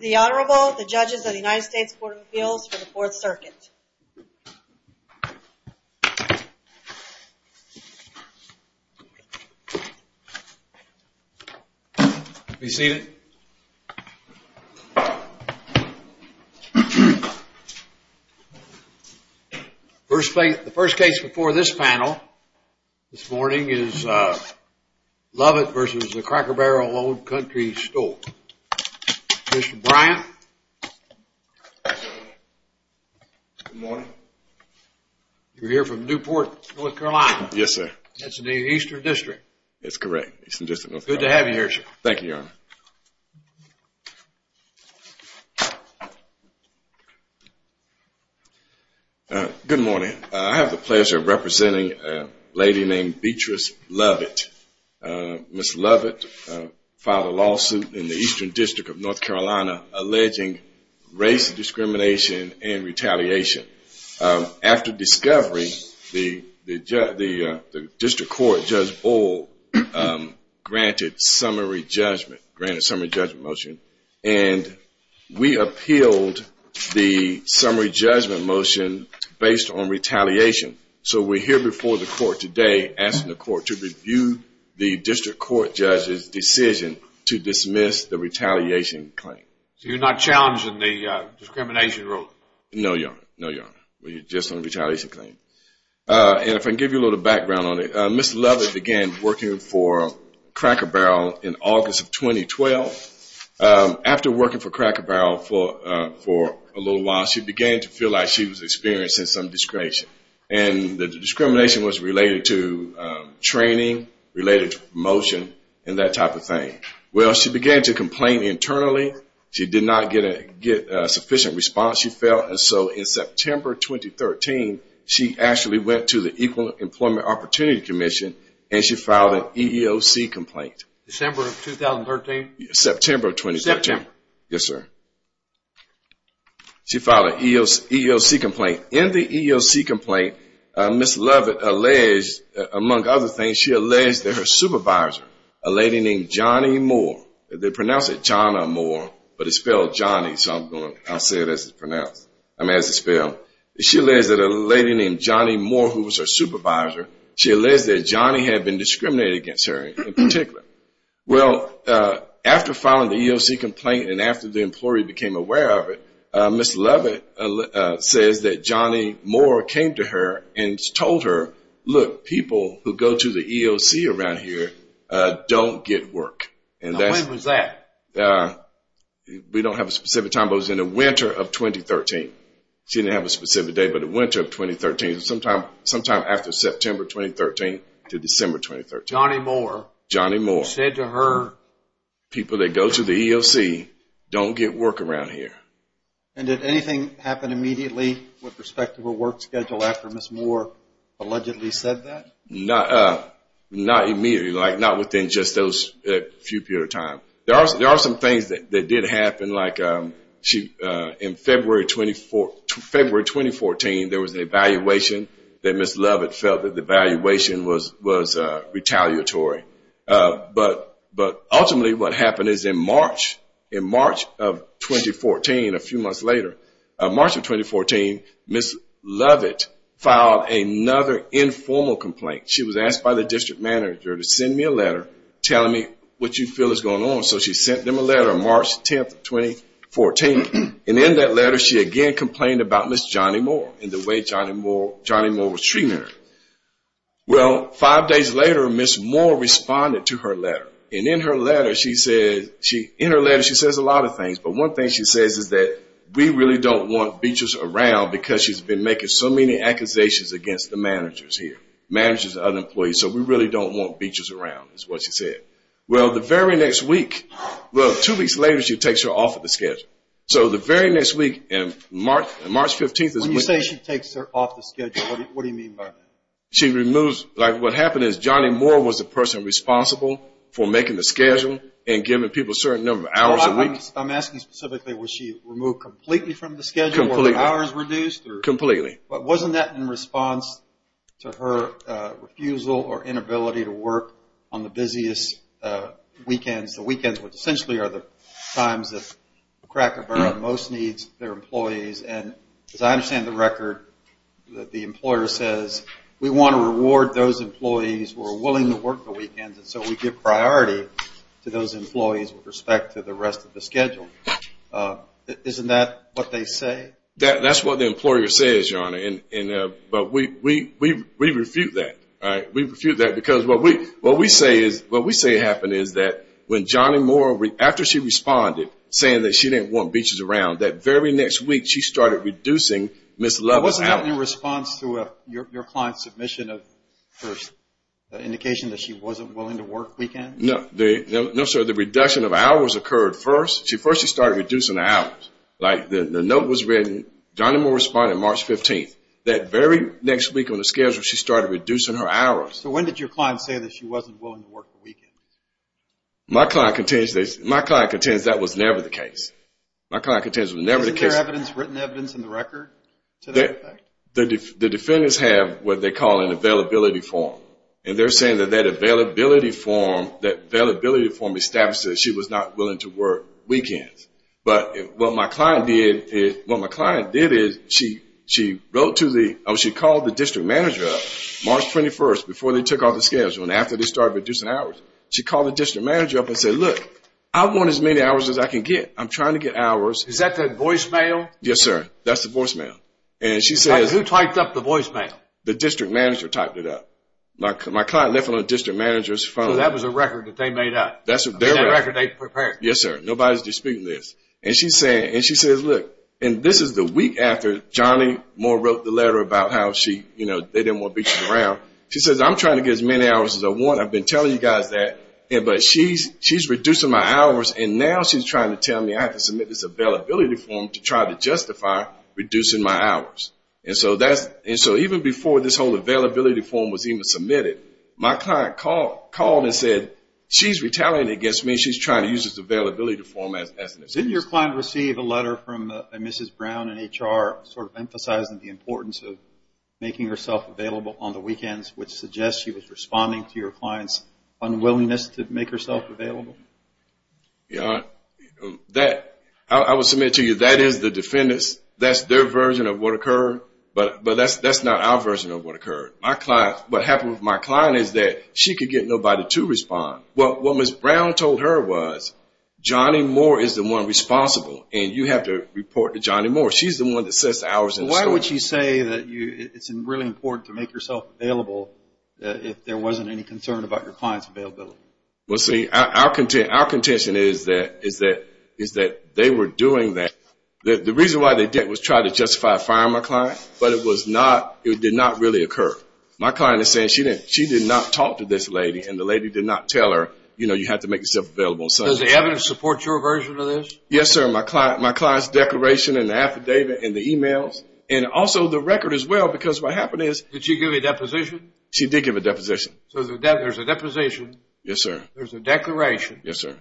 The Honorable, the Judges of the United States Court of Appeals for the Fourth Circuit. Be seated. The first case before this panel this morning is Lovett v. The Cracker Barrel Old Country Store. Mr. Bryant. Good morning. You're here from Newport, North Carolina. Yes, sir. That's in the Eastern District. Good to have you here, sir. Thank you, Your Honor. Good morning. I have the pleasure of representing a lady named Beatrice Lovett. Ms. Lovett filed a lawsuit in the Eastern District of North Carolina alleging race discrimination and retaliation. After discovery, the district court, Judge Bull, granted summary judgment motion. And we appealed the summary judgment motion based on retaliation. So we're here before the court today asking the court to review the district court judge's decision to dismiss the retaliation claim. So you're not challenging the discrimination rule? No, Your Honor. No, Your Honor. We're just on the retaliation claim. And if I can give you a little background on it, Ms. Lovett began working for Cracker Barrel in August of 2012. After working for Cracker Barrel for a little while, she began to feel like she was experiencing some discretion. And the discrimination was related to training, related to promotion, and that type of thing. Well, she began to complain internally. She did not get a sufficient response. She failed. And so in September 2013, she actually went to the Equal Employment Opportunity Commission and she filed an EEOC complaint. December of 2013? September of 2013. September. Yes, sir. She filed an EEOC complaint. In the EEOC complaint, Ms. Lovett alleged, among other things, she alleged that her supervisor, a lady named Johnny Moore, they pronounce it Johnna Moore, but it's spelled Johnny, so I'll say it as it's pronounced, I mean as it's spelled. She alleged that a lady named Johnny Moore, who was her supervisor, she alleged that Johnny had been discriminated against her in particular. Well, after filing the EEOC complaint and after the employee became aware of it, Ms. Lovett says that Johnny Moore came to her and told her, look, people who go to the EEOC around here don't get work. Now, when was that? We don't have a specific time, but it was in the winter of 2013. She didn't have a specific date, but the winter of 2013, sometime after September 2013 to December 2013. Johnny Moore. Johnny Moore. Said to her. People that go to the EEOC don't get work around here. And did anything happen immediately with respect to her work schedule after Ms. Moore allegedly said that? Not immediately, like not within just those few periods of time. There are some things that did happen, like in February 2014, there was an evaluation that Ms. Lovett felt that the evaluation was retaliatory. But ultimately what happened is in March of 2014, a few months later, in March of 2014, Ms. Lovett filed another informal complaint. She was asked by the district manager to send me a letter telling me what you feel is going on. So she sent them a letter on March 10, 2014. And in that letter, she again complained about Ms. Johnny Moore and the way Johnny Moore was treating her. Well, five days later, Ms. Moore responded to her letter. And in her letter, she says a lot of things. But one thing she says is that we really don't want beaches around because she's been making so many accusations against the managers here, managers and other employees. So we really don't want beaches around is what she said. Well, the very next week, well, two weeks later, she takes her off of the schedule. So the very next week, March 15th. When you say she takes her off the schedule, what do you mean by that? What happened is Johnny Moore was the person responsible for making the schedule and giving people a certain number of hours a week. I'm asking specifically, was she removed completely from the schedule? Completely. Were the hours reduced? Completely. But wasn't that in response to her refusal or inability to work on the busiest weekends, the weekends which essentially are the times that Cracker Barrel most needs their employees. And as I understand the record, the employer says, we want to reward those employees who are willing to work the weekends, and so we give priority to those employees with respect to the rest of the schedule. Isn't that what they say? That's what the employer says, Your Honor. But we refute that. We refute that because what we say happened is that when Johnny Moore, after she responded, saying that she didn't want beaches around, that very next week she started reducing Ms. Lovell's hours. Wasn't that in response to your client's submission of her indication that she wasn't willing to work weekends? No, sir. The reduction of hours occurred first. First she started reducing the hours. The note was written, Johnny Moore responded March 15th. That very next week on the schedule she started reducing her hours. My client contends that was never the case. My client contends it was never the case. Isn't there written evidence in the record to that effect? The defendants have what they call an availability form, and they're saying that that availability form established that she was not willing to work weekends. But what my client did is she called the district manager up March 21st before they took off the schedule and after they started reducing hours, she called the district manager up and said, look, I want as many hours as I can get. I'm trying to get hours. Is that the voicemail? Yes, sir. That's the voicemail. Who typed up the voicemail? The district manager typed it up. My client left it on the district manager's phone. So that was a record that they made up? That's their record. That record they prepared? Yes, sir. Nobody's disputing this. And she says, look, and this is the week after Johnny Moore wrote the letter about how they didn't want beaches around. She says, I'm trying to get as many hours as I want. I've been telling you guys that. But she's reducing my hours, and now she's trying to tell me I have to submit this availability form to try to justify reducing my hours. And so even before this whole availability form was even submitted, my client called and said she's retaliating against me. She's trying to use this availability form as an excuse. Didn't your client receive a letter from Mrs. Brown in HR sort of emphasizing the importance of making herself available on the weekends, which suggests she was responding to your client's unwillingness to make herself available? I will submit to you that is the defendant's. That's their version of what occurred. But that's not our version of what occurred. What happened with my client is that she could get nobody to respond. What Mrs. Brown told her was Johnny Moore is the one responsible, and you have to report to Johnny Moore. She's the one that sets the hours in the store. Why would she say that it's really important to make yourself available if there wasn't any concern about your client's availability? Well, see, our contention is that they were doing that. The reason why they did it was to try to justify firing my client, but it did not really occur. My client is saying she did not talk to this lady, and the lady did not tell her, you know, you have to make yourself available. Does the evidence support your version of this? Yes, sir. My client's declaration and the affidavit and the e-mails, and also the record as well, because what happened is— Did she give a deposition? She did give a deposition. So there's a deposition. Yes, sir. There's a declaration. Yes, sir.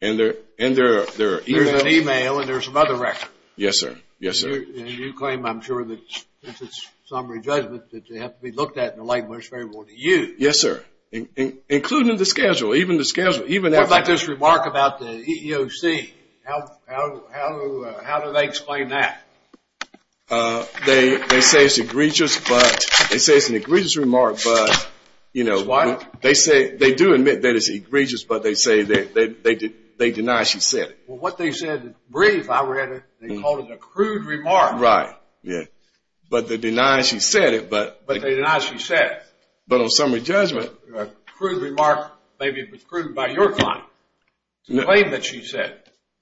And there are e-mails. There's an e-mail, and there's some other record. Yes, sir. Yes, sir. And you claim, I'm sure, that since it's summary judgment, that they have to be looked at in a language favorable to you. Yes, sir, including the schedule, even the schedule. What about this remark about the EEOC? How do they explain that? They say it's an egregious remark, but, you know, they do admit that it's egregious, but they deny she said it. Well, what they said is brief. I read it. They called it a crude remark. Right. Yeah. But they deny she said it, but— But they deny she said it. But on summary judgment— A crude remark may be crude by your client to claim that she said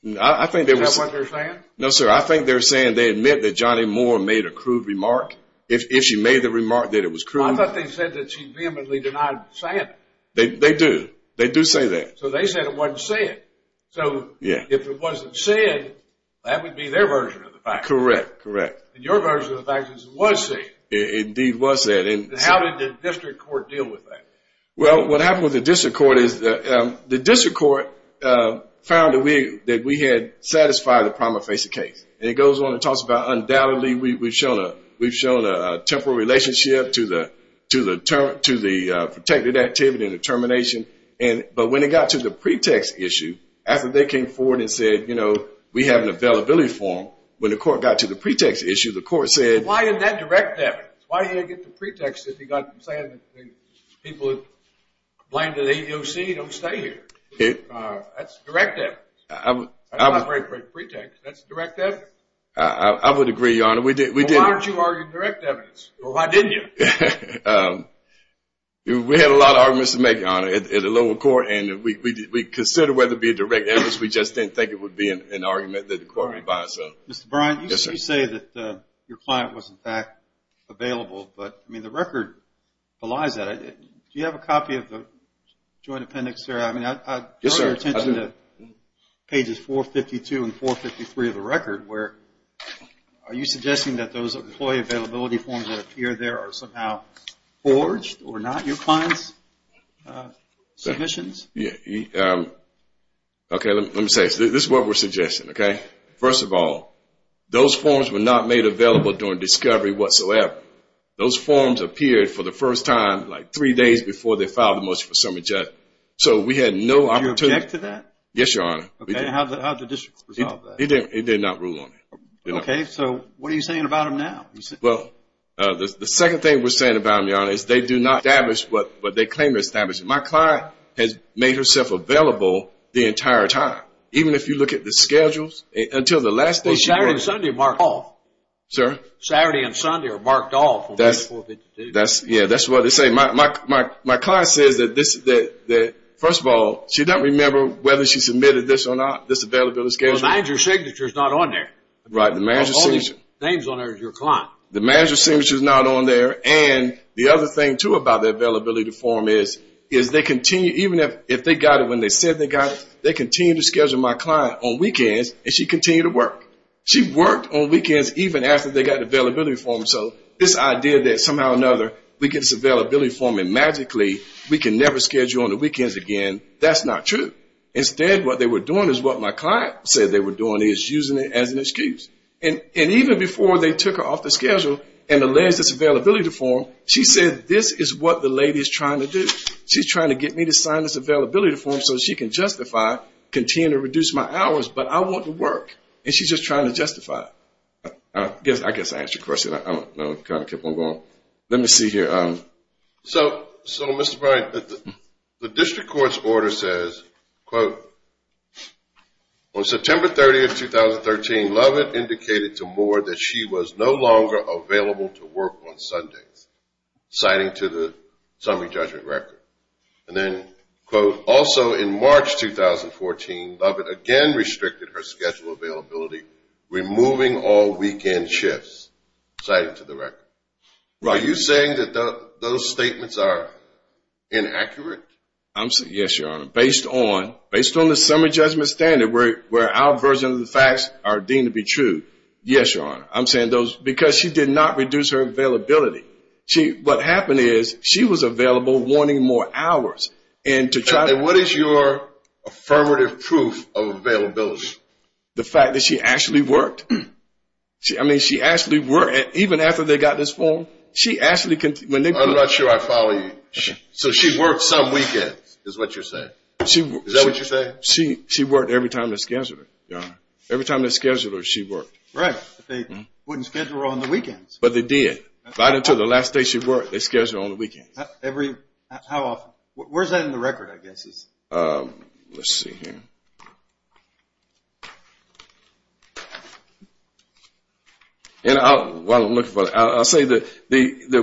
it. I think they were— Is that what they're saying? No, sir. I think they're saying they admit that Johnny Moore made a crude remark. If she made the remark that it was crude— I thought they said that she vehemently denied saying it. They do. They do say that. So they said it wasn't said. Yeah. If it wasn't said, that would be their version of the fact. Correct. Correct. And your version of the fact is it was said. It indeed was said. And how did the district court deal with that? Well, what happened with the district court is the district court found that we had satisfied the prima facie case. And it goes on and talks about undoubtedly we've shown a temporal relationship to the protected activity and the termination. But when it got to the pretext issue, after they came forward and said, you know, we have an availability form, when the court got to the pretext issue, the court said— Why didn't that direct evidence? Why didn't it get the pretext that they got from saying that people who complained to the AEOC don't stay here? That's direct evidence. That's not a very great pretext. That's direct evidence. I would agree, Your Honor. Well, why aren't you arguing direct evidence? Well, why didn't you? We had a lot of arguments to make, Your Honor, at the lower court. And we considered whether it be a direct evidence. We just didn't think it would be an argument that the court would buy. Mr. Bryant, you say that your client was, in fact, available. But, I mean, the record belies that. Do you have a copy of the joint appendix here? I mean, I draw your attention to pages 452 and 453 of the record, where are you suggesting that those employee availability forms that appear there are somehow forged or not your client's submissions? Okay, let me say this. This is what we're suggesting, okay? First of all, those forms were not made available during discovery whatsoever. Those forms appeared for the first time like three days before they filed the motion for submission. So we had no opportunity— Do you object to that? Yes, Your Honor. How did the district resolve that? It did not rule on it. Okay, so what are you saying about them now? Well, the second thing we're saying about them, Your Honor, is they do not establish what they claim to establish. My client has made herself available the entire time. Even if you look at the schedules, until the last day— Well, Saturday and Sunday are marked off. Sir? Saturday and Sunday are marked off on page 452. Yeah, that's what they say. My client says that, first of all, she doesn't remember whether she submitted this or not, this availability schedule. The manager's signature is not on there. Right, the manager's signature. All the names on there is your client. The manager's signature is not on there. And the other thing, too, about the availability form is they continue—even if they got it when they said they got it, they continue to schedule my client on weekends, and she continued to work. She worked on weekends even after they got the availability form. So this idea that somehow or another we get this availability form and magically we can never schedule on the weekends again, that's not true. Instead, what they were doing is what my client said they were doing is using it as an excuse. And even before they took her off the schedule and alleged this availability form, she said this is what the lady is trying to do. She's trying to get me to sign this availability form so she can justify continuing to reduce my hours, but I want to work. And she's just trying to justify it. I guess I answered your question. I don't know. I kind of kept on going. Let me see here. So, Mr. Bryant, the district court's order says, quote, on September 30th, 2013, Lovett indicated to Moore that she was no longer available to work on Sundays, citing to the summary judgment record. And then, quote, also in March 2014, Lovett again restricted her schedule availability, removing all weekend shifts, citing to the record. Are you saying that those statements are inaccurate? Yes, Your Honor. Based on the summary judgment standard where our version of the facts are deemed to be true, yes, Your Honor. I'm saying those because she did not reduce her availability. What happened is she was available wanting more hours. What is your affirmative proof of availability? The fact that she actually worked. I mean, she actually worked. Even after they got this form, she actually continued. I'm not sure I follow you. So she worked some weekends is what you're saying? Is that what you're saying? She worked every time they scheduled her, Your Honor. Every time they scheduled her, she worked. Right. But they wouldn't schedule her on the weekends. But they did. Right until the last day she worked, they scheduled her on the weekends. How often? Where's that in the record, I guess? Let's see here. While I'm looking for it, I'll say that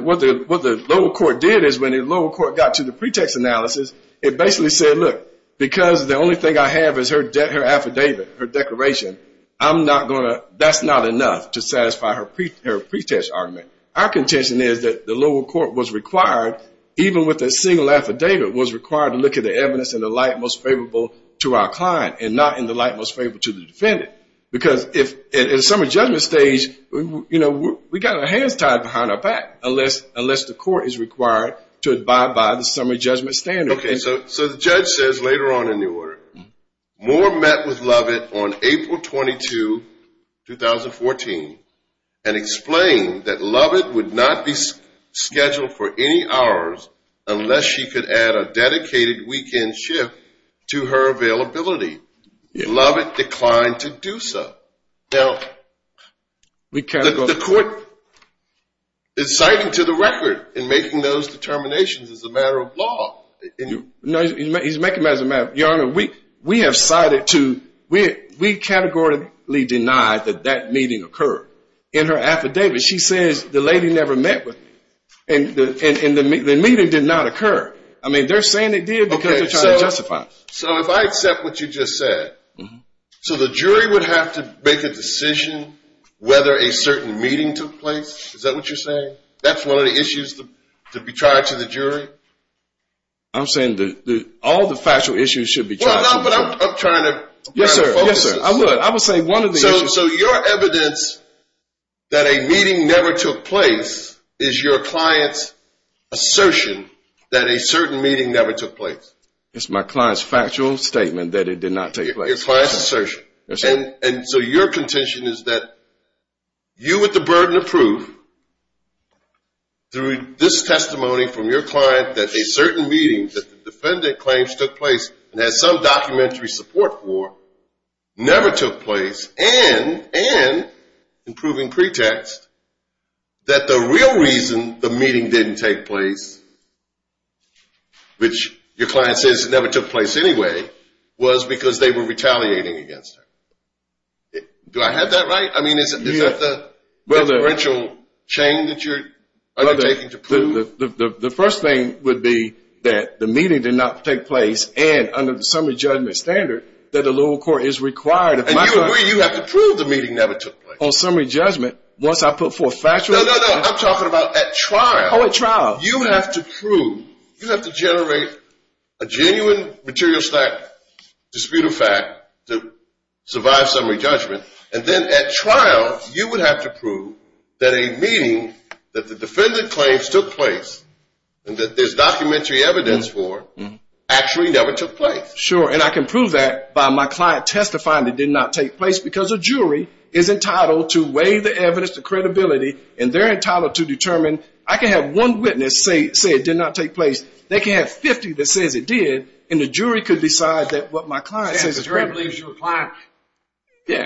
what the lower court did is when the lower court got to the pretext analysis, it basically said, look, because the only thing I have is her affidavit, her declaration, that's not enough to satisfy her pretext argument. Our contention is that the lower court was required, even with a single affidavit, was required to look at the evidence in the light most favorable to our client and not in the light most favorable to the defendant. Because in the summer judgment stage, we've got our hands tied behind our back, unless the court is required to abide by the summer judgment standard. Okay. So the judge says later on in the order, Moore met with Lovett on April 22, 2014, and explained that Lovett would not be scheduled for any hours unless she could add a dedicated weekend shift to her availability. Lovett declined to do so. Now, the court is citing to the record in making those determinations as a matter of law. No, he's making them as a matter of law. Your Honor, we have cited to, we categorically deny that that meeting occurred. In her affidavit, she says the lady never met with me, and the meeting did not occur. I mean, they're saying it did because they're trying to justify it. So if I accept what you just said, so the jury would have to make a decision whether a certain meeting took place? Is that what you're saying? That's one of the issues to be tried to the jury? I'm saying all the factual issues should be tried to the jury. Well, but I'm trying to focus. Yes, sir. I would say one of the issues. So your evidence that a meeting never took place is your client's assertion that a certain meeting never took place? It's my client's factual statement that it did not take place. Your client's assertion. Yes, sir. And so your contention is that you, with the burden of proof, through this testimony from your client that a certain meeting that the defendant claims took place and has some documentary support for, never took place, and in proving pretext, that the real reason the meeting didn't take place, which your client says it never took place anyway, was because they were retaliating against her. Do I have that right? I mean, is that the differential chain that you're undertaking to prove? The first thing would be that the meeting did not take place, and under the summary judgment standard, that a little court is required. And you have to prove the meeting never took place. On summary judgment, once I put forth factual evidence. No, no, no. I'm talking about at trial. Oh, at trial. You have to prove. You have to generate a genuine material fact, disputed fact, to survive summary judgment, and then at trial you would have to prove that a meeting that the defendant claims took place and that there's documentary evidence for actually never took place. Sure, and I can prove that by my client testifying it did not take place, because a jury is entitled to weigh the evidence, the credibility, and they're entitled to determine. I can have one witness say it did not take place. They can have 50 that says it did, and the jury could decide that what my client says is true. Yeah, because the jury believes your client takes care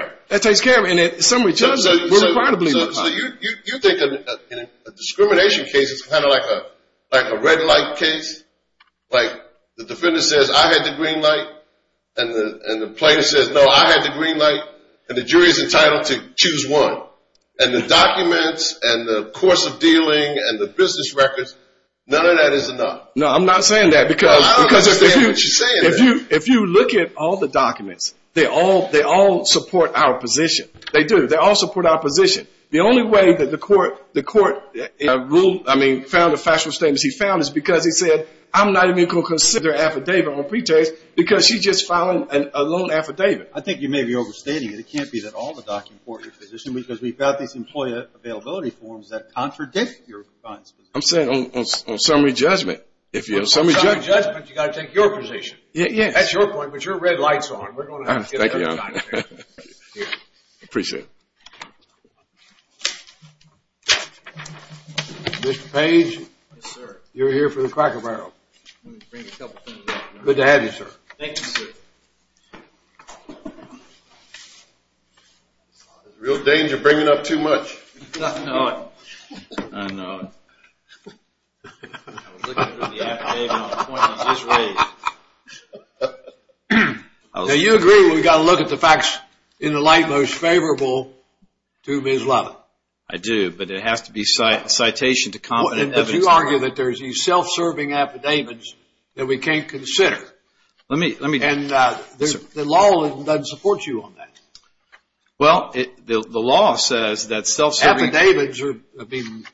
of it. Yeah, that takes care of it. And at summary judgment, we're required to believe the client. So you think that a discrimination case is kind of like a red light case? Like the defendant says, I had the green light, and the plaintiff says, no, I had the green light, and the jury is entitled to choose one. And the documents and the course of dealing and the business records, none of that is enough. No, I'm not saying that because if you look at all the documents, they all support our position. They do. They all support our position. The only way that the court ruled, I mean, found the factual statements he found, is because he said, I'm not even going to consider their affidavit on pretext, because she just filed a loan affidavit. I think you may be overstating it. It can't be that all the documents support your position, because we've got these employer availability forms that contradict your client's position. I'm saying on summary judgment. On summary judgment, you've got to take your position. That's your point, but your red light's on. Thank you, Your Honor. Appreciate it. Mr. Page. Yes, sir. You're here for the Cracker Barrel. Let me bring a couple things up. Good to have you, sir. Thank you, sir. There's a real danger of bringing up too much. I know it. I know it. I was looking through the affidavit on the point that was just raised. Now, you agree we've got to look at the facts in the light most favorable to Ms. Lovett. I do, but it has to be citation to confident evidence. But you argue that there's these self-serving affidavits that we can't consider. Let me, let me. And the law doesn't support you on that. Well, the law says that self-serving. Affidavits are, I mean,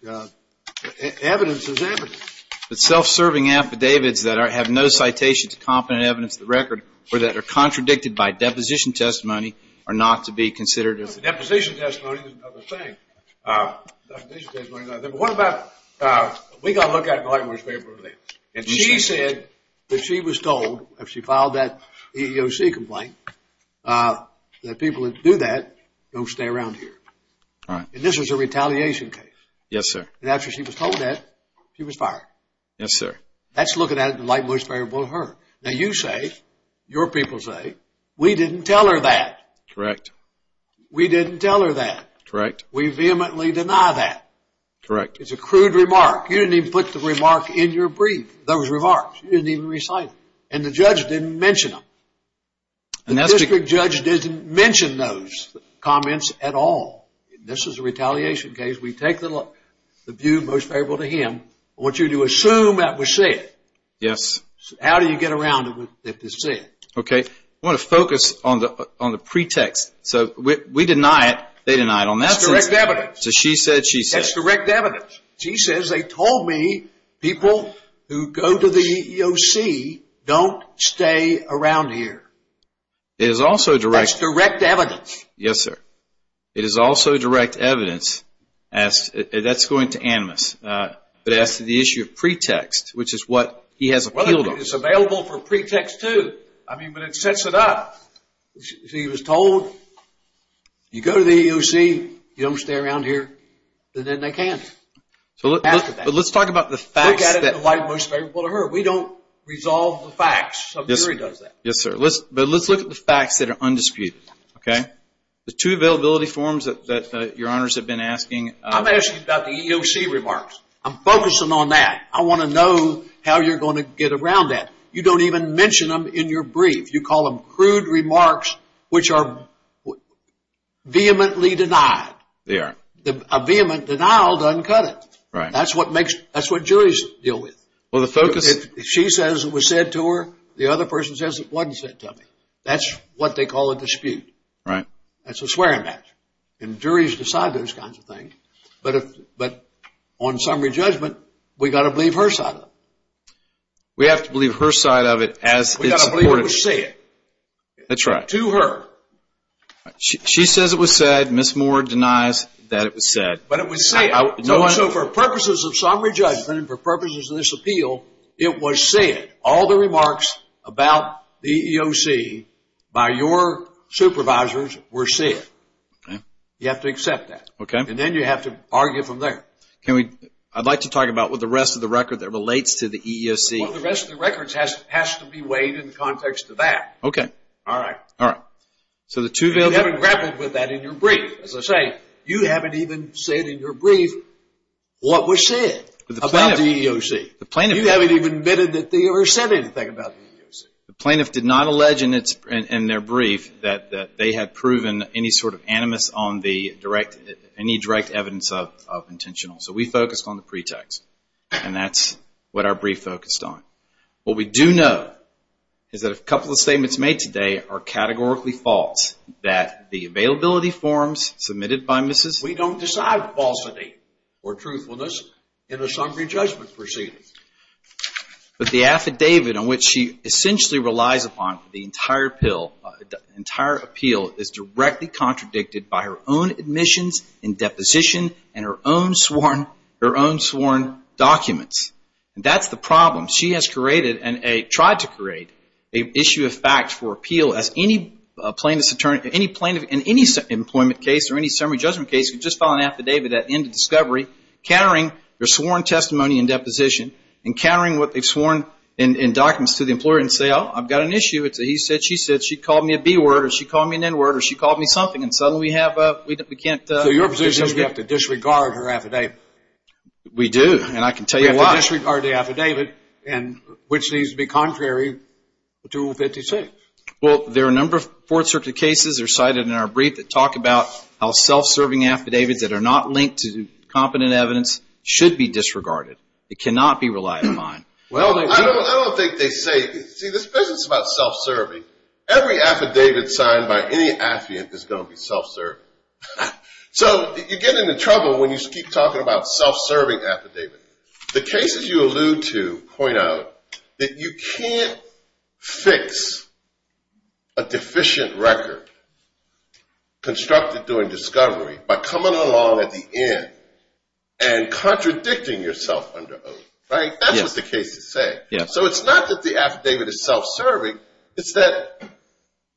evidence is evidence. But self-serving affidavits that have no citation to confident evidence of the record or that are contradicted by deposition testimony are not to be considered. Deposition testimony is another thing. Deposition testimony is another thing. But what about, we've got to look at it in the light most favorable to Ms. Lovett. And she said that she was told, after she filed that EEOC complaint, that people that do that don't stay around here. Right. And this was a retaliation case. Yes, sir. And after she was told that, she was fired. Yes, sir. That's looking at it in the light most favorable to her. Now you say, your people say, we didn't tell her that. Correct. We didn't tell her that. Correct. We vehemently deny that. Correct. It's a crude remark. You didn't even put the remark in your brief, those remarks. You didn't even recite them. And the judge didn't mention them. The district judge didn't mention those comments at all. This is a retaliation case. We take the view most favorable to him. I want you to assume that was said. Yes. How do you get around it if it's said? Okay. I want to focus on the pretext. So we deny it. They deny it. That's direct evidence. So she said she said. That's direct evidence. She says they told me people who go to the EEOC don't stay around here. It is also direct. That's direct evidence. Yes, sir. It is also direct evidence. That's going to animus. But as to the issue of pretext, which is what he has appealed on. It's available for pretext, too. I mean, but it sets it up. She was told, you go to the EEOC, you don't stay around here. And then they can't. But let's talk about the facts. Look at it in the light most favorable to her. We don't resolve the facts. Some jury does that. Yes, sir. But let's look at the facts that are undisputed. Okay? The two availability forms that your honors have been asking. I'm asking about the EEOC remarks. I'm focusing on that. I want to know how you're going to get around that. You don't even mention them in your brief. You call them crude remarks, which are vehemently denied. They are. A vehement denial doesn't cut it. Right. That's what makes – that's what juries deal with. Well, the focus – If she says it was said to her, the other person says it wasn't said to me. That's what they call a dispute. Right. That's a swearing match. And juries decide those kinds of things. But on summary judgment, we've got to believe her side of it. We have to believe her side of it as it's reported. That's right. To her. She says it was said. Ms. Moore denies that it was said. But it was said. So for purposes of summary judgment and for purposes of this appeal, it was said. All the remarks about the EEOC by your supervisors were said. Okay. You have to accept that. Okay. And then you have to argue from there. Can we – I'd like to talk about what the rest of the record that relates to the EEOC. Well, the rest of the record has to be weighed in the context of that. Okay. All right. All right. So the two – You haven't grappled with that in your brief. As I say, you haven't even said in your brief what was said about the EEOC. The plaintiff – You haven't even admitted that they ever said anything about the EEOC. The plaintiff did not allege in their brief that they had proven any sort of animus on the direct – any direct evidence of intentional. So we focused on the pretext, and that's what our brief focused on. What we do know is that a couple of statements made today are categorically false, that the availability forms submitted by Mrs. – We don't decide falsity or truthfulness in a summary judgment proceeding. But the affidavit on which she essentially relies upon for the entire appeal is directly contradicted by her own admissions and deposition and her own sworn documents. And that's the problem. She has created and tried to create an issue of fact for appeal as any plaintiff in any employment case or any summary judgment case could just file an affidavit at the end of discovery countering their sworn testimony and deposition and countering what they've sworn in documents to the employer and say, Well, I've got an issue. It's a he said, she said. She called me a B word or she called me an N word or she called me something. And suddenly we have – we can't – So your position is we have to disregard her affidavit. We do, and I can tell you why. We have to disregard the affidavit, which needs to be contrary to Rule 56. Well, there are a number of Fourth Circuit cases that are cited in our brief that talk about how self-serving affidavits that are not linked to competent evidence should be disregarded. It cannot be relied upon. Well, I don't think they say – see, this business about self-serving, every affidavit signed by any affiant is going to be self-serving. So you get into trouble when you keep talking about self-serving affidavit. The cases you allude to point out that you can't fix a deficient record constructed during discovery by coming along at the end and contradicting yourself under oath, right? That's what the cases say. So it's not that the affidavit is self-serving. It's that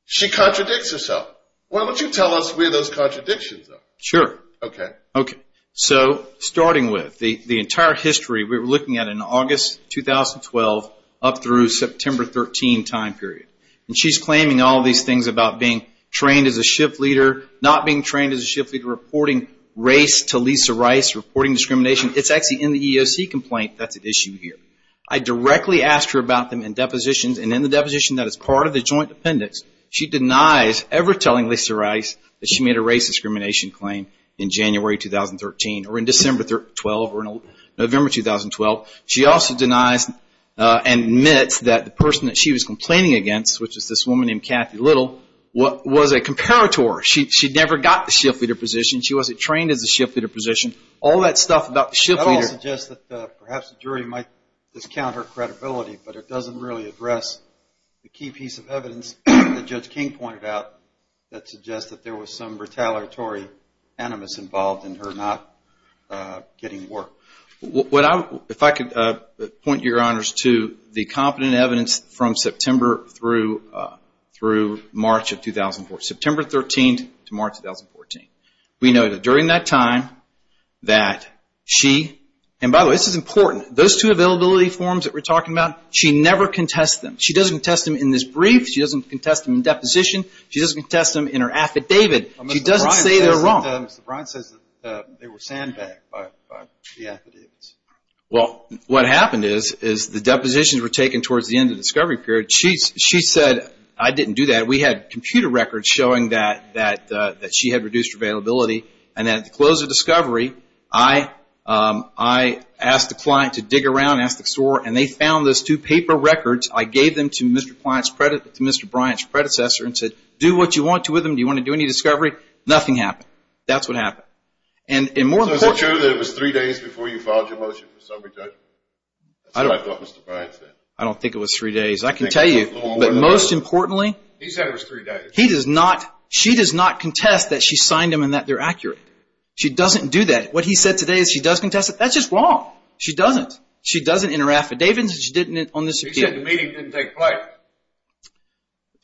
she contradicts herself. Why don't you tell us where those contradictions are? Sure. Okay. Okay. So starting with the entire history, we were looking at in August 2012 up through September 13 time period. And she's claiming all these things about being trained as a shift leader, not being trained as a shift leader, reporting race to Lisa Rice, reporting discrimination. It's actually in the EEOC complaint that's at issue here. I directly asked her about them in depositions, and in the deposition that is part of the joint appendix, she denies ever telling Lisa Rice that she made a race discrimination claim in January 2013 or in December 2012 or in November 2012. She also denies and admits that the person that she was complaining against, which is this woman named Kathy Little, was a comparator. She never got the shift leader position. She wasn't trained as a shift leader position. All that stuff about the shift leader. That all suggests that perhaps the jury might discount her credibility, but it doesn't really address the key piece of evidence that Judge King pointed out that suggests that there was some retaliatory animus involved in her not getting work. If I could point your honors to the competent evidence from September through March of 2014. September 13 to March 2014. We know that during that time that she, and by the way, this is important. Those two availability forms that we're talking about, she never contests them. She doesn't contest them in this brief. She doesn't contest them in deposition. She doesn't contest them in her affidavit. She doesn't say they're wrong. Mr. Bryant says that they were sandbagged by the affidavits. Well, what happened is the depositions were taken towards the end of the discovery period. She said, I didn't do that. We had computer records showing that she had reduced availability. And at the close of discovery, I asked the client to dig around, asked the store, and they found those two paper records. I gave them to Mr. Bryant's predecessor and said, do what you want to with them. Do you want to do any discovery? Nothing happened. That's what happened. So is it true that it was three days before you filed your motion for summary judgment? That's what I thought Mr. Bryant said. I don't think it was three days. I can tell you. But most importantly, she does not contest that she signed them and that they're accurate. She doesn't do that. What he said today is she does contest it. That's just wrong. She doesn't. She doesn't in her affidavits. She didn't on this appeal. He said the meeting didn't take place.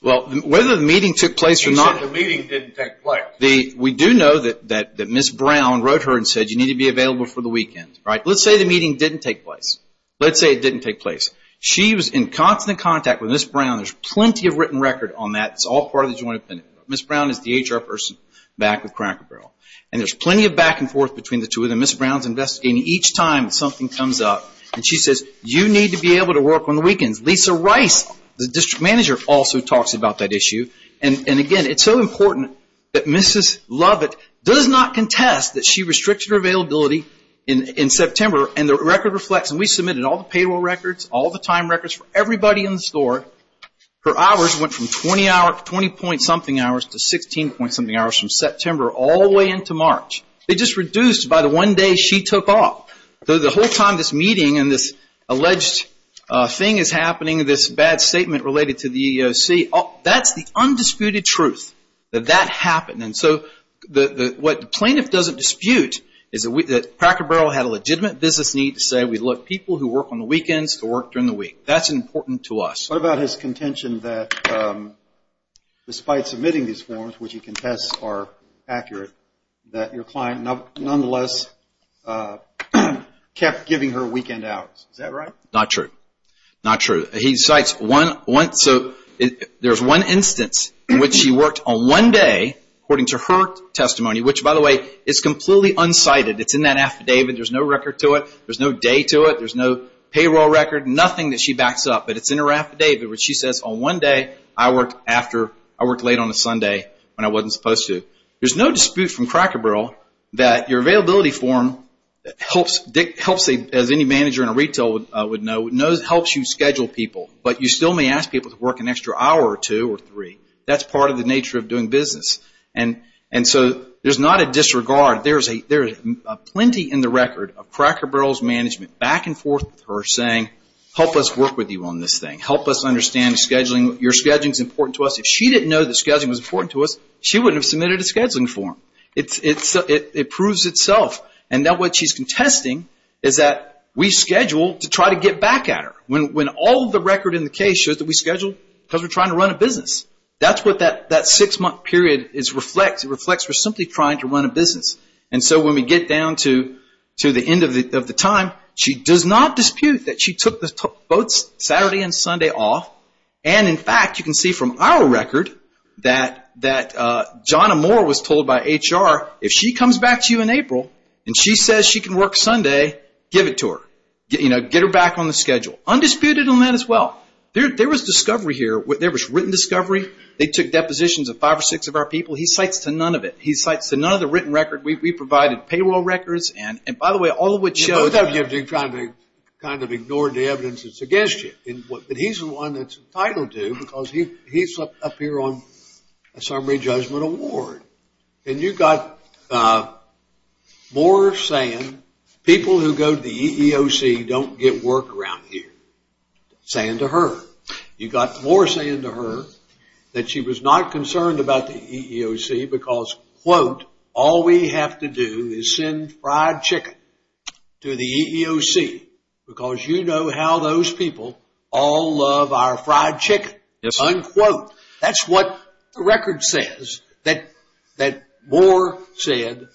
Well, whether the meeting took place or not. He said the meeting didn't take place. We do know that Ms. Brown wrote her and said you need to be available for the weekend. Let's say the meeting didn't take place. Let's say it didn't take place. She was in constant contact with Ms. Brown. There's plenty of written record on that. It's all part of the joint opinion. Ms. Brown is the HR person back with Cracker Barrel. And there's plenty of back and forth between the two of them. Ms. Brown's investigating each time something comes up. And she says you need to be able to work on the weekends. Lisa Rice, the district manager, also talks about that issue. And, again, it's so important that Mrs. Lovett does not contest that she restricted her availability in September. And the record reflects, and we submitted all the payroll records, all the time records for everybody in the store. Her hours went from 20 point something hours to 16 point something hours from September all the way into March. They just reduced by the one day she took off. The whole time this meeting and this alleged thing is happening, this bad statement related to the EEOC, that's the undisputed truth that that happened. And so what the plaintiff doesn't dispute is that Cracker Barrel had a legitimate business need to say, we'd like people who work on the weekends to work during the week. That's important to us. What about his contention that despite submitting these forms, which he contests are accurate, that your client nonetheless kept giving her a weekend out? Is that right? Not true. Not true. He cites one instance in which she worked on one day, according to her testimony, which, by the way, is completely unsighted. It's in that affidavit. There's no record to it. There's no day to it. There's no payroll record, nothing that she backs up. But it's in her affidavit where she says on one day I worked late on a Sunday when I wasn't supposed to. There's no dispute from Cracker Barrel that your availability form helps, as any manager in a retail would know, helps you schedule people, but you still may ask people to work an extra hour or two or three. That's part of the nature of doing business. And so there's not a disregard. There's plenty in the record of Cracker Barrel's management back and forth with her saying, help us work with you on this thing. Help us understand scheduling. Your scheduling is important to us. If she didn't know that scheduling was important to us, she wouldn't have submitted a scheduling form. It proves itself. And now what she's contesting is that we scheduled to try to get back at her. When all the record in the case shows that we scheduled because we're trying to run a business. That's what that six-month period reflects. It reflects we're simply trying to run a business. And so when we get down to the end of the time, she does not dispute that she took both Saturday and Sunday off. And, in fact, you can see from our record that John Amore was told by HR if she comes back to you in April and she says she can work Sunday, give it to her. Get her back on the schedule. Undisputed on that as well. There was discovery here. There was written discovery. They took depositions of five or six of our people. He cites to none of it. He cites to none of the written record. We provided payroll records. And, by the way, all of which show that. Kind of ignored the evidence that's against you. But he's the one that's entitled to because he's up here on a summary judgment award. And you got more saying people who go to the EEOC don't get work around here. Saying to her. You got more saying to her that she was not concerned about the EEOC because, quote, all we have to do is send fried chicken to the EEOC because you know how those people all love our fried chicken. Unquote. That's what the record says that Moore said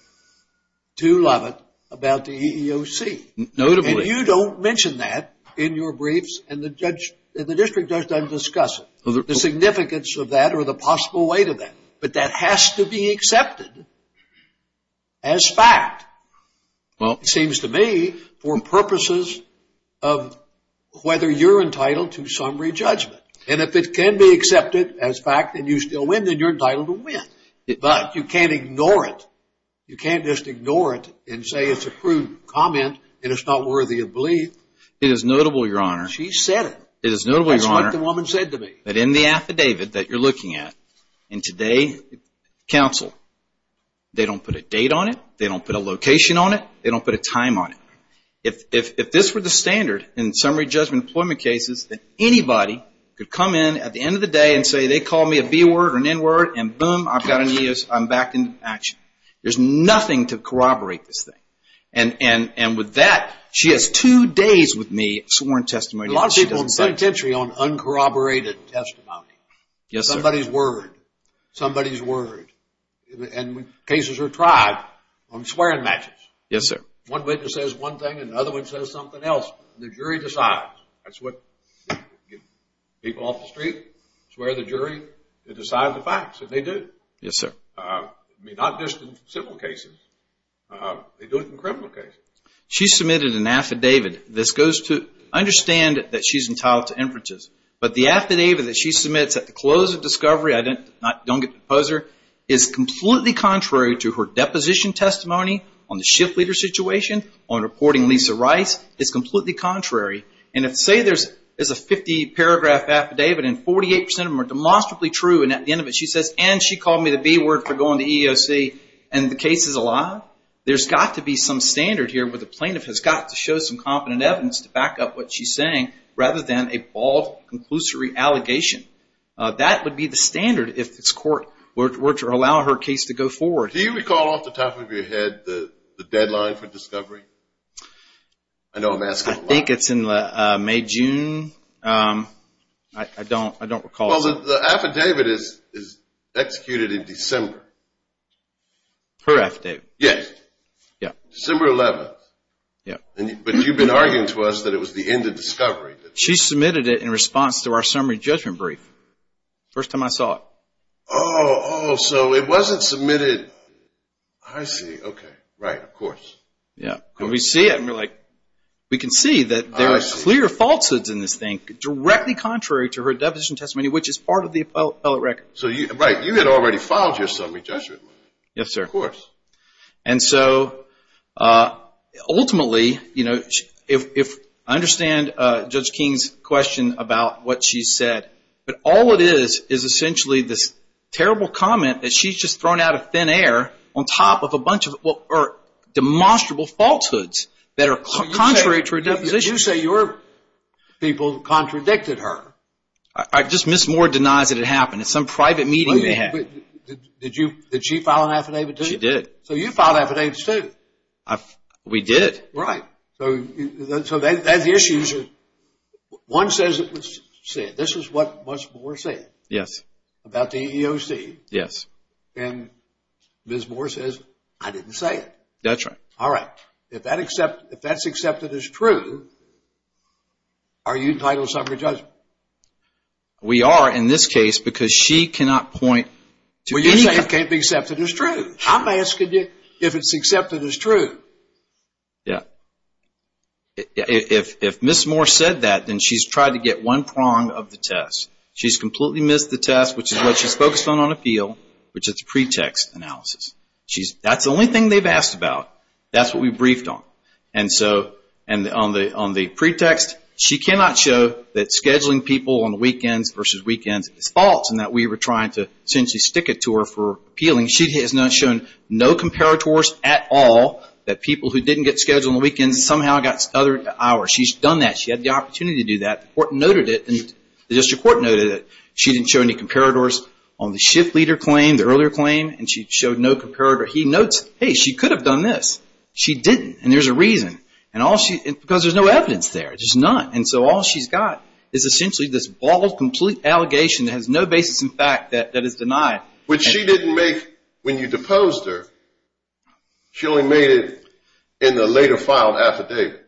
to Lovett about the EEOC. Notably. And you don't mention that in your briefs and the district judge doesn't discuss it. The significance of that or the possible weight of that. But that has to be accepted as fact. Well, it seems to me for purposes of whether you're entitled to summary judgment. And if it can be accepted as fact and you still win, then you're entitled to win. But you can't ignore it. You can't just ignore it and say it's a crude comment and it's not worthy of belief. It is notable, Your Honor. She said it. It is notable, Your Honor. That's what the woman said to me. That in the affidavit that you're looking at in today's counsel, they don't put a date on it. They don't put a location on it. They don't put a time on it. If this were the standard in summary judgment employment cases, that anybody could come in at the end of the day and say they called me a B word or an N word and, boom, I've got an EEOC. I'm back in action. There's nothing to corroborate this thing. And with that, she has two days with me sworn testimony. There are a lot of people in this country on uncorroborated testimony. Somebody's word. Somebody's word. And cases are tried on swearing matches. Yes, sir. One witness says one thing and the other one says something else, and the jury decides. That's what people off the street swear the jury to decide the facts, and they do. Yes, sir. I mean, not just in civil cases. They do it in criminal cases. She submitted an affidavit. This goes to understand that she's entitled to inferences. But the affidavit that she submits at the close of discovery, I don't get to pose her, is completely contrary to her deposition testimony on the shift leader situation on reporting Lisa Rice. It's completely contrary. And if, say, there's a 50-paragraph affidavit and 48% of them are demonstrably true, and at the end of it she says, and she called me the B word for going to EEOC, and the case is alive, there's got to be some standard here where the plaintiff has got to show some competent evidence to back up what she's saying rather than a bald, conclusory allegation. That would be the standard if this court were to allow her case to go forward. Do you recall off the top of your head the deadline for discovery? I know I'm asking a lot. I think it's in May, June. I don't recall. Well, the affidavit is executed in December. Her affidavit? Yes. Yeah. December 11th. Yeah. But you've been arguing to us that it was the end of discovery. She submitted it in response to our summary judgment brief, first time I saw it. Oh, so it wasn't submitted. I see. Okay. Right, of course. Yeah. And we see it and we're like, we can see that there are clear falsehoods in this thing, directly contrary to her deposition testimony, which is part of the appellate record. Right. You had already filed your summary judgment. Yes, sir. Of course. And so ultimately, you know, I understand Judge King's question about what she said, but all it is is essentially this terrible comment that she's just thrown out of thin air on top of a bunch of demonstrable falsehoods that are contrary to her deposition. You say your people contradicted her. Just Ms. Moore denies that it happened. It's some private meeting they had. Did she file an affidavit too? She did. So you filed affidavits too. We did. Right. So that's the issue. One says it was said. This is what Ms. Moore said. Yes. About the EEOC. Yes. And Ms. Moore says, I didn't say it. That's right. All right. If that's accepted as true, are you entitled to summary judgment? We are in this case because she cannot point to anything. Well, you say it can't be accepted as true. I'm asking you if it's accepted as true. Yeah. If Ms. Moore said that, then she's tried to get one prong of the test. She's completely missed the test, which is what she's focused on on appeal, which is the pretext analysis. That's the only thing they've asked about. That's what we briefed on. And on the pretext, she cannot show that scheduling people on the weekends versus weekends is false and that we were trying to essentially stick it to her for appealing. She has not shown no comparators at all that people who didn't get scheduled on the weekends somehow got other hours. She's done that. She had the opportunity to do that. The court noted it. The district court noted it. She didn't show any comparators on the shift leader claim, the earlier claim, and she showed no comparator. He notes, hey, she could have done this. She didn't, and there's a reason, because there's no evidence there. There's none. And so all she's got is essentially this bald, complete allegation that has no basis in fact that is denied. Which she didn't make when you deposed her. She only made it in the later filed affidavit.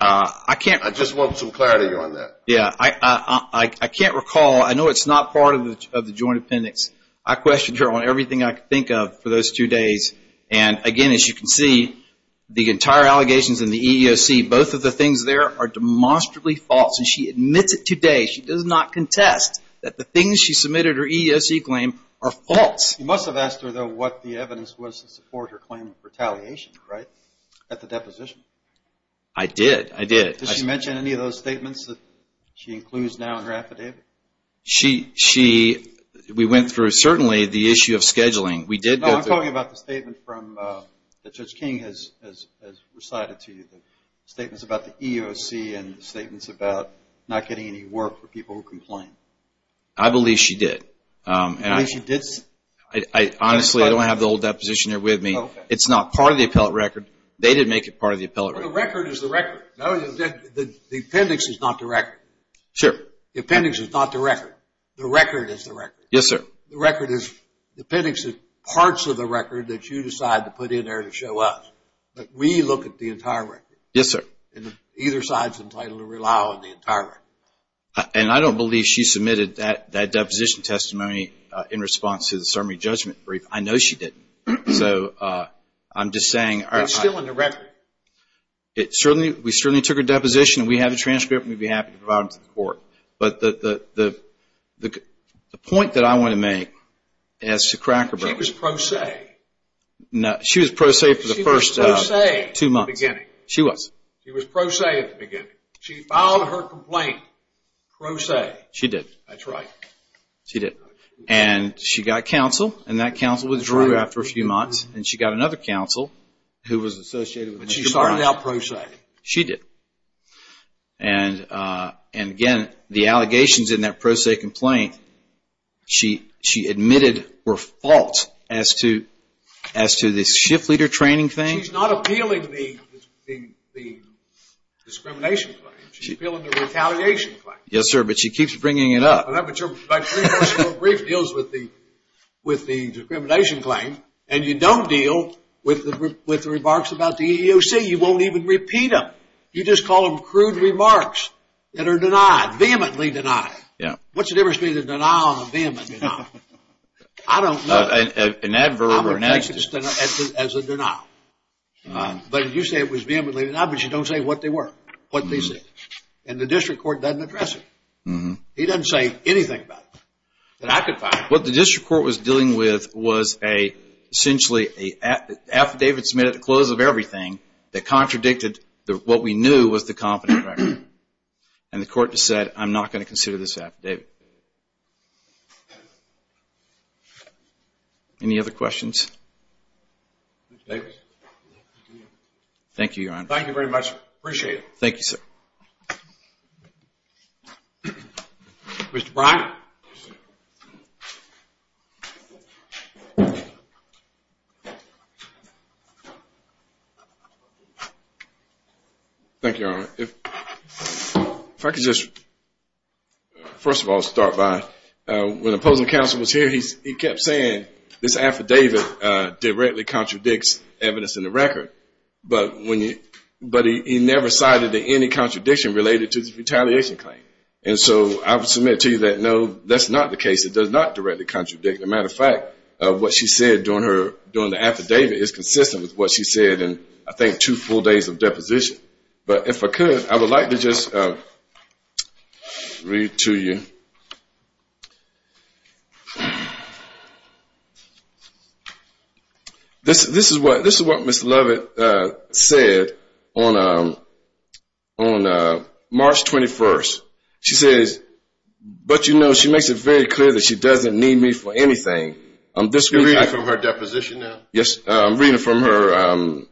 I just want some clarity on that. Yeah. I can't recall. I know it's not part of the joint appendix. I questioned her on everything I could think of for those two days. And, again, as you can see, the entire allegations in the EEOC, both of the things there are demonstrably false. And she admits it today. She does not contest that the things she submitted her EEOC claim are false. You must have asked her, though, what the evidence was to support her claim of retaliation, right, at the deposition. I did. I did. Did she mention any of those statements that she includes now in her affidavit? We went through, certainly, the issue of scheduling. No, I'm talking about the statement that Judge King has recited to you, the statements about the EEOC and the statements about not getting any work for people who complain. I believe she did. You believe she did? Honestly, I don't have the old deposition here with me. It's not part of the appellate record. They did make it part of the appellate record. Well, the record is the record. The appendix is not the record. Sure. The appendix is not the record. The record is the record. Yes, sir. The record is the appendix of parts of the record that you decide to put in there to show us. But we look at the entire record. Yes, sir. And either side is entitled to rely on the entire record. And I don't believe she submitted that deposition testimony in response to the summary judgment brief. I know she didn't. So, I'm just saying. It's still in the record. We certainly took her deposition. We have the transcript, and we'd be happy to provide it to the court. But the point that I want to make as to Cracker Barrel. She was pro se. She was pro se for the first two months. She was pro se at the beginning. She filed her complaint pro se. She did. That's right. She did. And she got counsel, and that counsel withdrew after a few months. And she got another counsel who was associated with the department. But she started out pro se. She did. And, again, the allegations in that pro se complaint she admitted were false as to the shift leader training thing. She's not appealing the discrimination claim. She's appealing the retaliation claim. Yes, sir. But she keeps bringing it up. I'm not sure if my three-person brief deals with the discrimination claim. And you don't deal with the remarks about the EEOC. You won't even repeat them. You just call them crude remarks that are denied, vehemently denied. Yeah. What's the difference between a denial and a vehement denial? I don't know. An adverb or an adverb. I'm going to take it as a denial. But you say it was vehemently denied, but you don't say what they were, what they said. And the district court doesn't address it. He doesn't say anything about it that I could find. What the district court was dealing with was essentially an affidavit submitted at the close of everything that contradicted what we knew was the competent record. And the court just said, I'm not going to consider this affidavit. Any other questions? Thank you, Your Honor. Appreciate it. Thank you, sir. Mr. Bryant. Thank you, Your Honor. If I could just, first of all, start by when the opposing counsel was here, he kept saying this affidavit directly contradicts evidence in the record. But he never cited any contradiction related to the retaliation claim. And so I would submit to you that, no, that's not the case. It does not directly contradict. As a matter of fact, what she said during the affidavit is consistent with what she said in, I think, two full days of deposition. But if I could, I would like to just read to you. This is what Ms. Lovett said on March 21st. She says, but, you know, she makes it very clear that she doesn't need me for anything. You're reading from her deposition now? Yes. I'm reading from her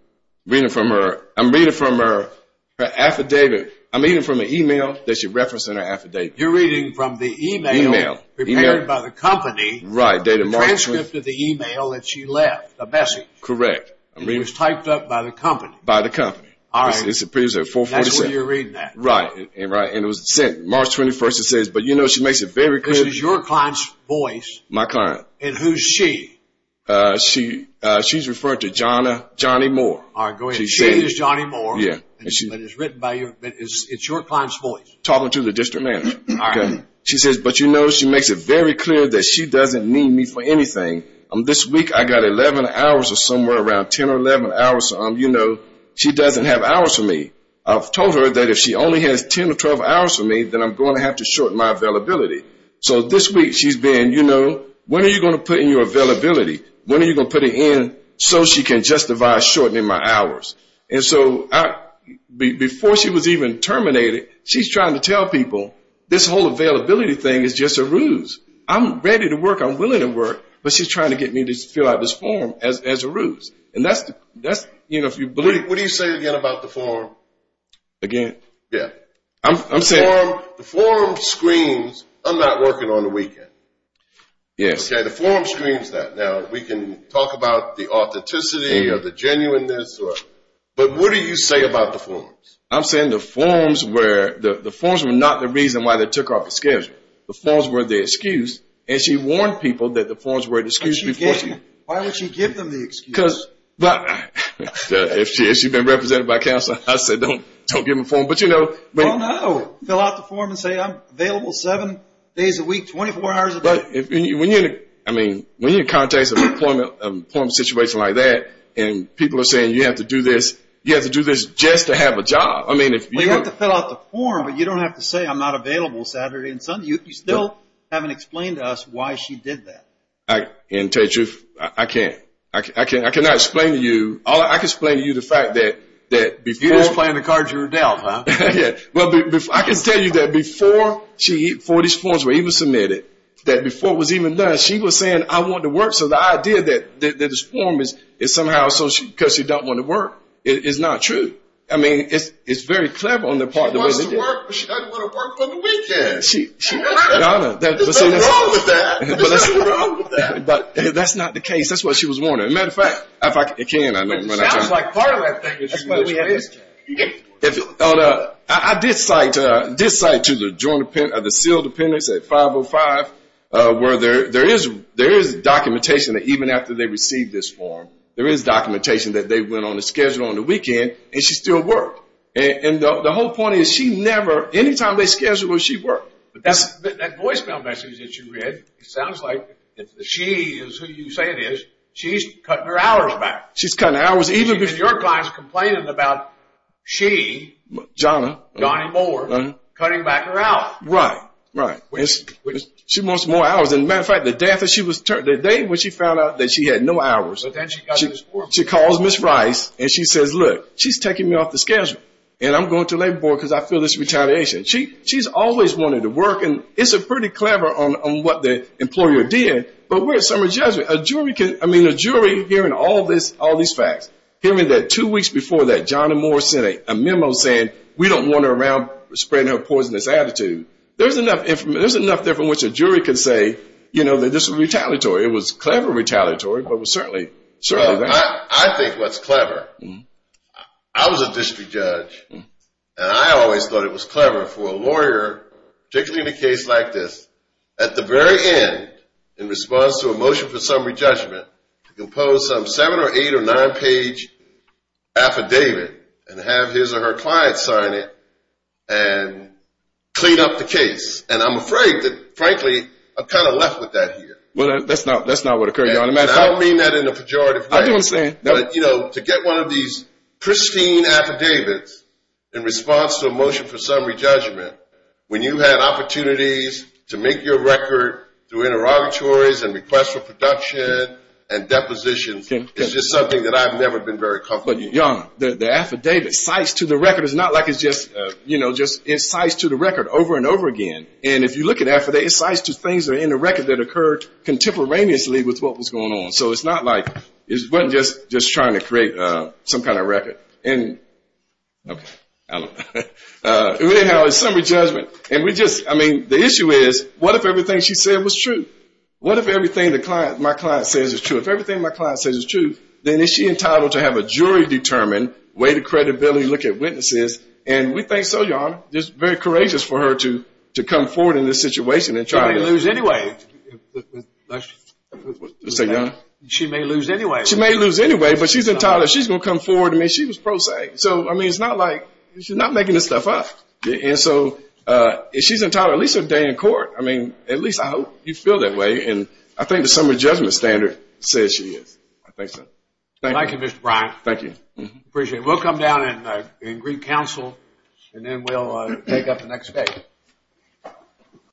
affidavit. I'm reading from an email that she referenced in her affidavit. You're reading from the email? Email. Prepared by the company. Right. The transcript of the email that she left, the message. Correct. It was typed up by the company. By the company. All right. This appears at 447. That's what you're reading at. Right. Right. And it was sent March 21st. It says, but, you know, she makes it very clear. This is your client's voice. My client. And who's she? She's referring to Johnny Moore. She is Johnny Moore. Yeah. But it's written by your, it's your client's voice. Talking to the district manager. All right. And she says, but, you know, she makes it very clear that she doesn't need me for anything. This week I got 11 hours or somewhere around 10 or 11 hours. You know, she doesn't have hours for me. I've told her that if she only has 10 or 12 hours for me, then I'm going to have to shorten my availability. So this week she's been, you know, when are you going to put in your availability? When are you going to put it in so she can justify shortening my hours? And so before she was even terminated, she's trying to tell people this whole availability thing is just a ruse. I'm ready to work. I'm willing to work. But she's trying to get me to fill out this form as a ruse. And that's, you know, if you believe. What do you say again about the form? Again? Yeah. I'm saying. The form screams I'm not working on the weekend. Yes. Okay. The form screams that. Now we can talk about the authenticity or the genuineness. But what do you say about the forms? I'm saying the forms were not the reason why they took off the schedule. The forms were the excuse. And she warned people that the forms were an excuse. Why would she give them the excuse? Because if she's been represented by counsel, I said don't give them the form. But you know. No, no. Fill out the form and say I'm available seven days a week, 24 hours a day. When you're in context of an employment situation like that, and people are saying you have to do this, you have to do this just to have a job. Well, you have to fill out the form, but you don't have to say I'm not available Saturday and Sunday. You still haven't explained to us why she did that. And to tell you the truth, I can't. I cannot explain to you. I can explain to you the fact that before. You're just playing the cards you were dealt, huh? Yeah. I can tell you that before these forms were even submitted, that before it was even done, she was saying I want to work. So the idea that this form is somehow because she doesn't want to work is not true. I mean, it's very clever on the part of the way she did it. She wants to work, but she doesn't want to work on the weekends. There's nothing wrong with that. There's nothing wrong with that. But that's not the case. That's what she was warning. As a matter of fact, if I can. Sounds like part of that thing. I did cite to the sealed appendix at 505 where there is documentation that even after they received this form, there is documentation that they went on a schedule on the weekend and she still worked. And the whole point is she never, any time they scheduled her, she worked. But that voicemail message that you read, it sounds like she is who you say it is. She's cutting her hours back. She's cutting hours. Because your client is complaining about she, Johnny Moore, cutting back her hours. Right. Right. She wants more hours. As a matter of fact, the day after she was turned, the day when she found out that she had no hours. But then she got this form. She calls Ms. Rice and she says, look, she's taking me off the schedule. And I'm going to labor board because I feel this retaliation. She's always wanted to work. And it's pretty clever on what the employer did. But we're at summary judgment. I mean, a jury hearing all these facts, hearing that two weeks before that, Johnny Moore sent a memo saying we don't want her around spreading her poisonous attitude. There's enough there from which a jury can say, you know, that this was retaliatory. It was clever retaliatory, but it was certainly there. I think what's clever, I was a district judge, and I always thought it was clever for a lawyer, particularly in a case like this, at the very end, in response to a motion for summary judgment, to compose some seven or eight or nine page affidavit and have his or her client sign it and clean up the case. And I'm afraid that, frankly, I'm kind of left with that here. Well, that's not what occurred, Your Honor. I don't mean that in a pejorative way. I do understand. But, you know, to get one of these pristine affidavits in response to a motion for summary judgment, when you had opportunities to make your record through interrogatories and requests for production and depositions, it's just something that I've never been very comfortable with. But, Your Honor, the affidavit, cites to the record. It's not like it's just, you know, just cites to the record over and over again. And if you look at affidavits, cites to things that are in the record that occurred contemporaneously with what was going on. So it's not like it wasn't just trying to create some kind of record. Okay. I don't know. We didn't have a summary judgment. And we just, I mean, the issue is, what if everything she said was true? What if everything my client says is true? If everything my client says is true, then is she entitled to have a jury-determined way to credibility look at witnesses? And we think so, Your Honor. It's very courageous for her to come forward in this situation and try to. She may lose anyway. Say again? She may lose anyway. She may lose anyway. But she's entitled. She's going to come forward. I mean, she was pro se. So, I mean, it's not like she's not making this stuff up. And so if she's entitled, at least a day in court. I mean, at least I hope you feel that way. And I think the summary judgment standard says she is. I think so. Thank you, Mr. Bryant. Thank you. Appreciate it. We'll come down and agree counsel, and then we'll take up the next case.